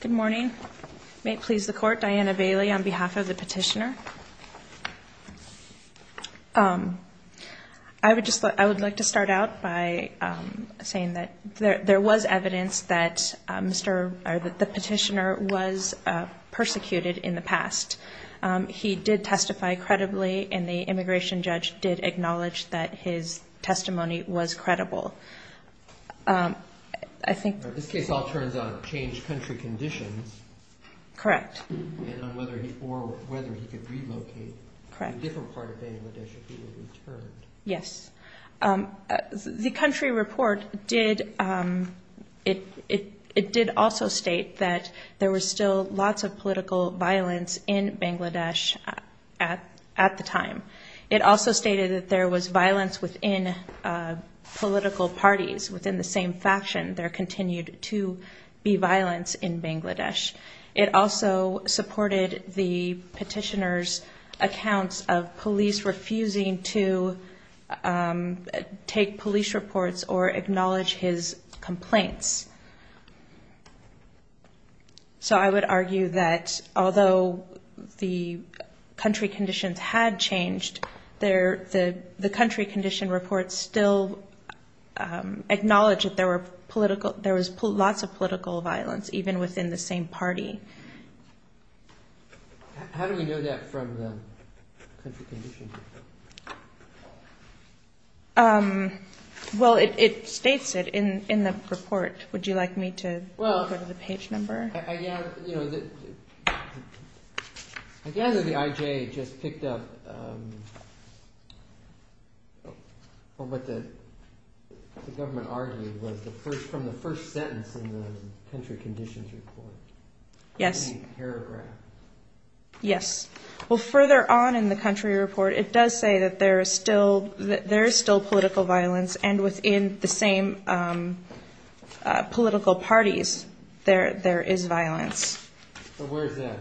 Good morning. May it please the court, Diana Bailey on behalf of the petitioner. I would like to start out by saying that there was evidence that the petitioner was persecuted in the past. He did testify credibly, and the immigration judge did acknowledge that his testimony was credible. This case all turns on changed country conditions, or whether he could relocate to a different part of Bangladesh if he were returned. Yes. The country report did also state that there was still lots of political violence in Bangladesh at the time. It also stated that there was violence within political parties within the same faction. There continued to be violence in Bangladesh. It also supported the petitioner's accounts of police refusing to take police reports or acknowledge his complaints. So I would argue that although the country conditions had changed, the country condition report still acknowledged that there was lots of political violence even within the same party. How do we know that from the country condition report? Well, it states it in the report. Would you like me to go to the page number? I gather the IJ just picked up what the government argued was from the first sentence in the country conditions report. Yes. Any paragraph. Yes. Well, further on in the country report, it does say that there is still political violence, and within the same political parties there is violence. Where is that?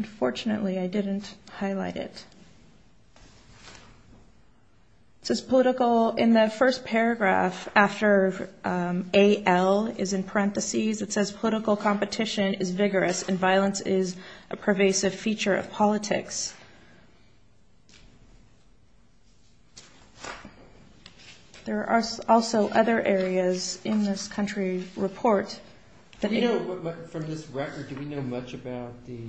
Unfortunately, I didn't highlight it. It says political in the first paragraph after AL is in parentheses. It says political competition is vigorous and violence is a pervasive feature of politics. There are also other areas in this country report. From this record, do we know much about the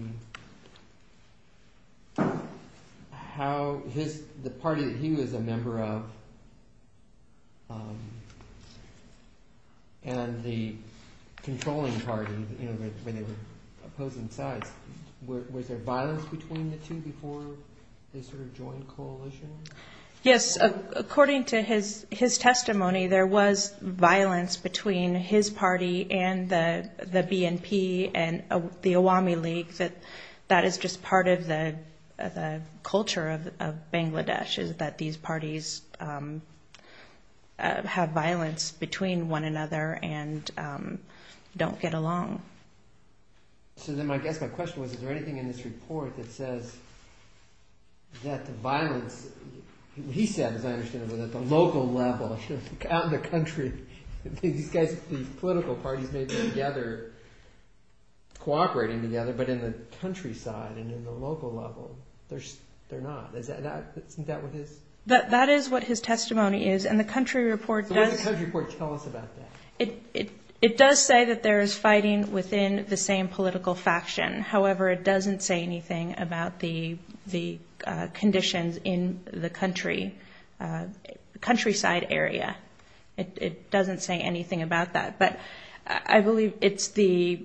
party that he was a member of and the controlling party when they were opposing sides? Was there violence between the two before they sort of joined coalition? Yes. According to his testimony, there was violence between his party and the BNP and the Awami League. That is just part of the culture of Bangladesh is that these parties have violence between one another and don't get along. So then I guess my question was, is there anything in this report that says that the violence, he said as I understand it, was at the local level. Out in the country, these political parties may be together, cooperating together, but in the countryside and in the local level, they're not. Isn't that what his... That is what his testimony is, and the country report does... So what does the country report tell us about that? It does say that there is fighting within the same political faction. However, it doesn't say anything about the conditions in the country, countryside area. It doesn't say anything about that. But I believe it's the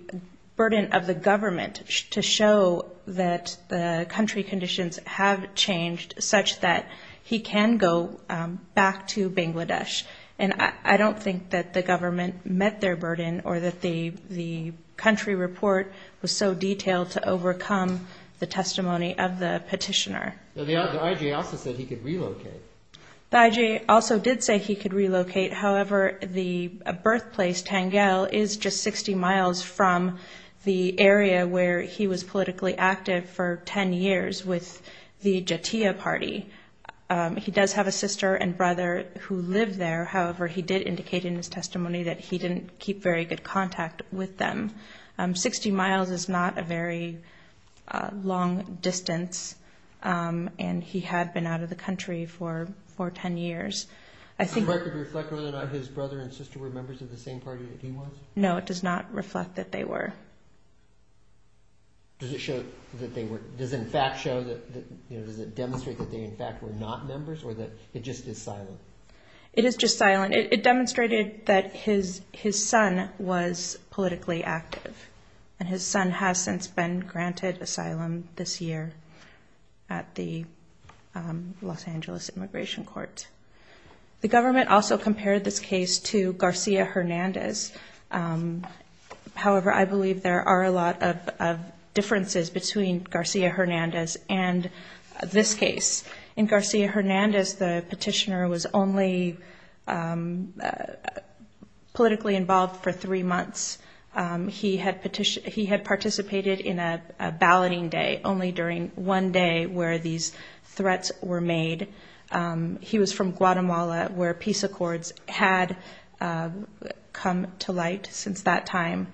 burden of the government to show that the country conditions have changed such that he can go back to Bangladesh. And I don't think that the government met their burden or that the country report was so detailed to overcome the testimony of the petitioner. The IJ also said he could relocate. The IJ also did say he could relocate. However, the birthplace, Tangel, is just 60 miles from the area where he was politically active for 10 years with the Jatia party. He does have a sister and brother who live there. However, he did indicate in his testimony that he didn't keep very good contact with them. Sixty miles is not a very long distance, and he had been out of the country for 10 years. Does the record reflect whether or not his brother and sister were members of the same party that he was? No, it does not reflect that they were. Does it show that they were – does it in fact show that – does it demonstrate that they in fact were not members or that it just is silent? It is just silent. It demonstrated that his son was politically active, and his son has since been granted asylum this year at the Los Angeles Immigration Court. The government also compared this case to Garcia Hernandez. However, I believe there are a lot of differences between Garcia Hernandez and this case. In Garcia Hernandez, the petitioner was only politically involved for three months. He had participated in a balloting day only during one day where these threats were made. He was from Guatemala where peace accords had come to light since that time.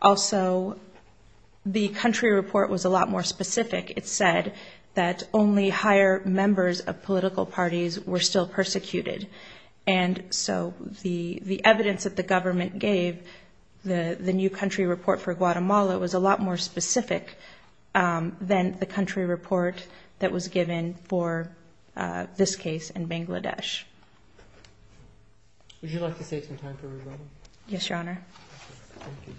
Also, the country report was a lot more specific. It said that only higher members of political parties were still persecuted. So the evidence that the government gave, the new country report for Guatemala, was a lot more specific than the country report that was given for this case in Bangladesh. Would you like to save some time for rebuttal? Yes, Your Honor. Thank you.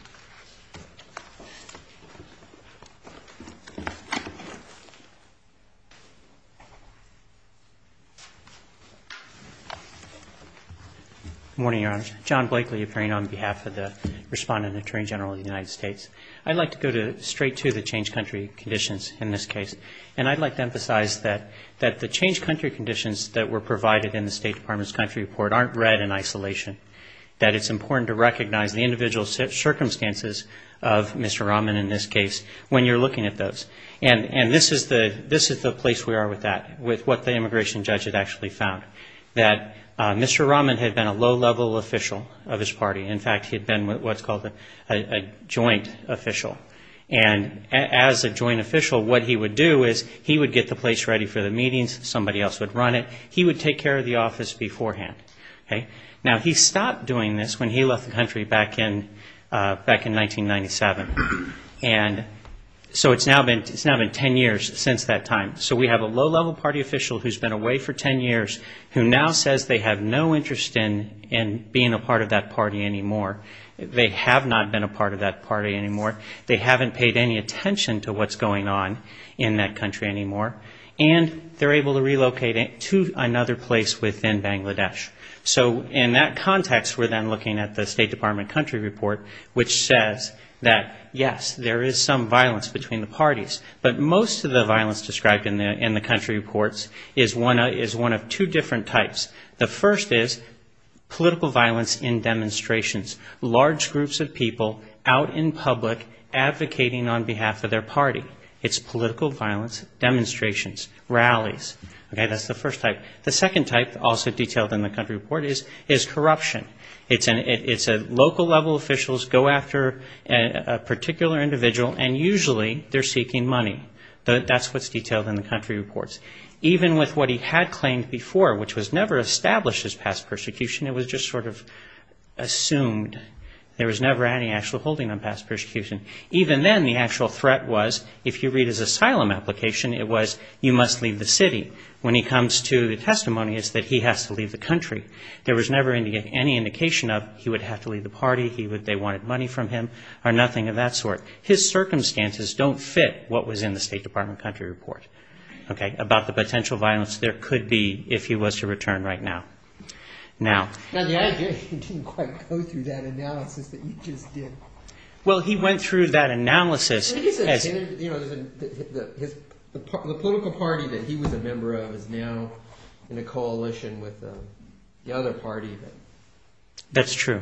Good morning, Your Honor. John Blakely appearing on behalf of the respondent attorney general of the United States. I'd like to go straight to the changed country conditions in this case. And I'd like to emphasize that the changed country conditions that were provided in the State Department's country report aren't read in isolation, that it's important to recognize the individual circumstances of Mr. Rahman in this case when you're looking at those. And this is the place we are with that, with what the immigration judge had actually found, that Mr. Rahman had been a low-level official of his party. In fact, he had been what's called a joint official. And as a joint official, what he would do is he would get the place ready for the meetings, somebody else would run it, he would take care of the office beforehand. Now, he stopped doing this when he left the country back in 1997. And so it's now been 10 years since that time. So we have a low-level party official who's been away for 10 years, who now says they have no interest in being a part of that party anymore. They have not been a part of that party anymore. They haven't paid any attention to what's going on in that country anymore. And they're able to relocate to another place within Bangladesh. So in that context, we're then looking at the State Department country report, But most of the violence described in the country reports is one of two different types. The first is political violence in demonstrations. Large groups of people out in public advocating on behalf of their party. It's political violence, demonstrations, rallies. Okay, that's the first type. The second type, also detailed in the country report, is corruption. It's a local-level officials go after a particular individual, and usually they're seeking money. That's what's detailed in the country reports. Even with what he had claimed before, which was never established as past persecution, it was just sort of assumed. There was never any actual holding on past persecution. Even then, the actual threat was, if you read his asylum application, it was, you must leave the city. When he comes to the testimony, it's that he has to leave the country. There was never any indication of he would have to leave the party, they wanted money from him, or nothing of that sort. His circumstances don't fit what was in the State Department country report. Okay, about the potential violence there could be if he was to return right now. Now... Well, he went through that analysis... That's true.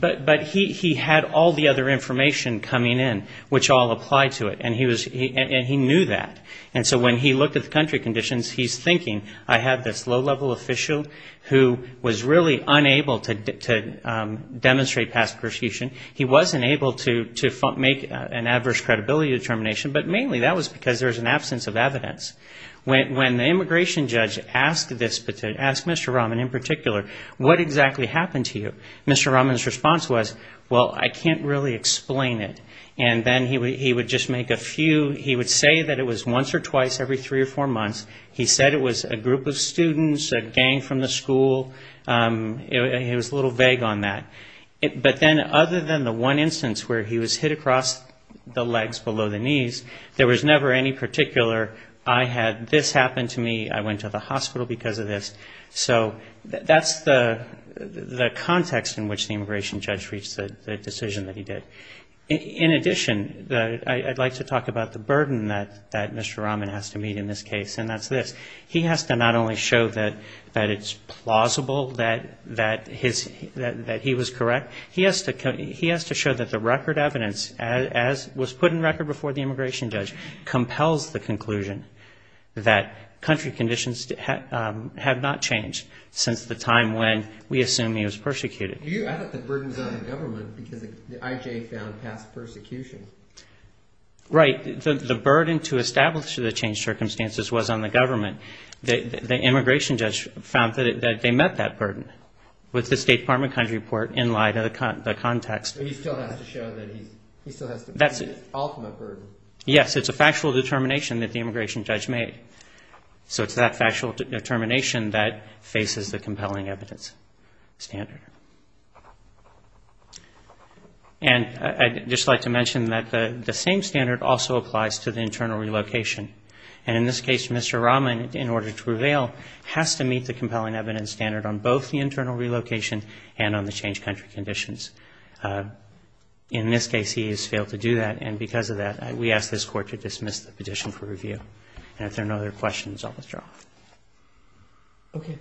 But he had all the other information coming in, which all applied to it, and he knew that. And so when he looked at the country conditions, he's thinking, I have this low-level official who was really unable to demonstrate past persecution. He wasn't able to make an adverse credibility determination, but mainly that was because there was an absence of evidence. When the immigration judge asked Mr. Rahman in particular, what exactly happened to you? Mr. Rahman's response was, well, I can't really explain it. And then he would just make a few... He would say that it was once or twice every three or four months. He said it was a group of students, a gang from the school. He was a little vague on that. But then, other than the one instance where he was hit across the legs below the knees, there was never any particular, I had this happen to me, I went to the hospital because of this. So that's the context in which the immigration judge reached the decision that he did. In addition, I'd like to talk about the burden that Mr. Rahman has to meet in this case, and that's this. He has to not only show that it's plausible that he was correct, he has to show that the record evidence, as was put in record before the immigration judge, compels the conclusion that country conditions have not changed since the time when we assume he was persecuted. I thought the burden was on the government because the IJ found past persecution. Right. The burden to establish the changed circumstances was on the government. The immigration judge found that they met that burden with the State Department country report in light of the context. He still has to show that he's ultimate burden. Yes, it's a factual determination that the immigration judge made. So it's that factual determination that faces the compelling evidence standard. I'd just like to mention that the same standard also applies to the internal relocation. In this case, Mr. Rahman, in order to prevail, has to meet the compelling evidence standard on both the internal relocation and on the changed country conditions. In this case, he has failed to do that, and because of that, we ask this Court to dismiss the petition for review. And if there are no other questions, I'll withdraw. Okay.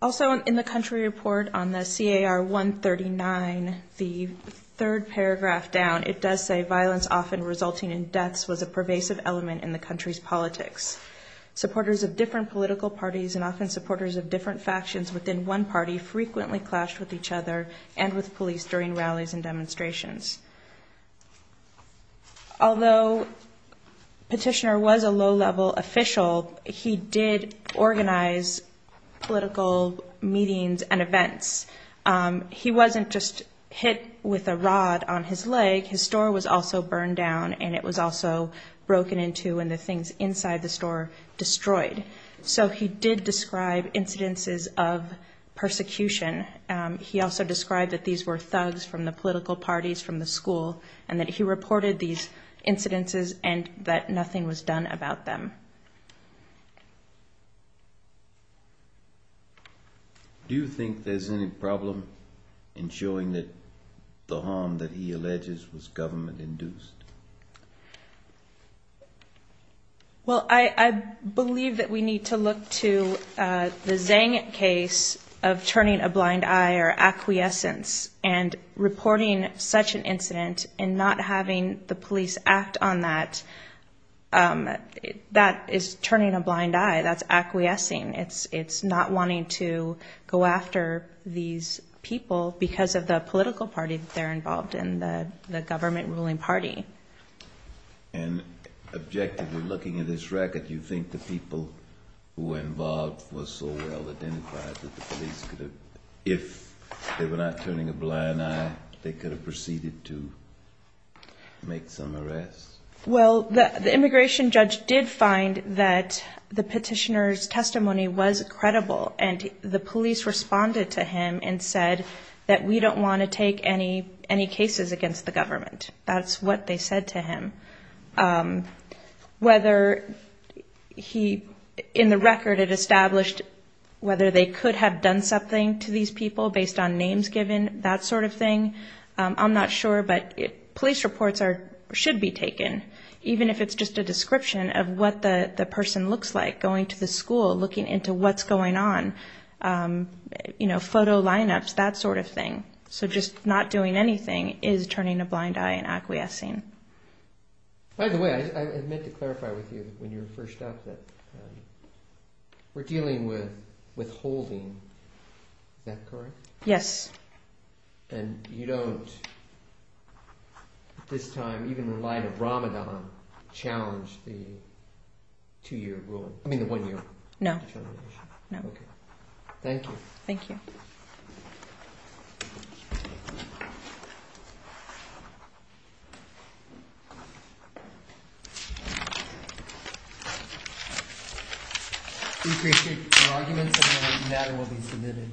Also, in the country report on the CAR 139, the third paragraph down, it does say, violence often resulting in deaths was a pervasive element in the country's politics. Supporters of different political parties and often supporters of different factions within one party frequently clashed with each other and with police during rallies and demonstrations. Although Petitioner was a low-level official, he did organize political meetings and events. He wasn't just hit with a rod on his leg. His store was also burned down, and it was also broken into, and the things inside the store destroyed. So he did describe incidences of persecution. He also described that these were thugs from the political parties from the school and that he reported these incidences and that nothing was done about them. Do you think there's any problem in showing that the harm that he alleges was government-induced? Well, I believe that we need to look to the Zhang case of turning a blind eye or acquiescence and reporting such an incident and not having the police act on that. That is turning a blind eye. That's acquiescing. It's not wanting to go after these people because of the political party that they're involved in, the government-ruling party. And objectively, looking at this record, you think the people who were involved were so well-identified that the police could have, if they were not turning a blind eye, they could have proceeded to make some arrests? Well, the immigration judge did find that the petitioner's testimony was credible and the police responded to him and said that we don't want to take any cases against the government. That's what they said to him. In the record, it established whether they could have done something to these people based on names given, that sort of thing. I'm not sure, but police reports should be taken even if it's just a description of what the person looks like going to the school, looking into what's going on, photo lineups, that sort of thing. So just not doing anything is turning a blind eye and acquiescing. By the way, I meant to clarify with you when you were first up that we're dealing with withholding. Is that correct? Yes. And you don't, at this time, even in light of Ramadan, challenge the two-year rule, I mean the one-year determination? No. Thank you. We appreciate your arguments and that matter will be submitted. Thank you.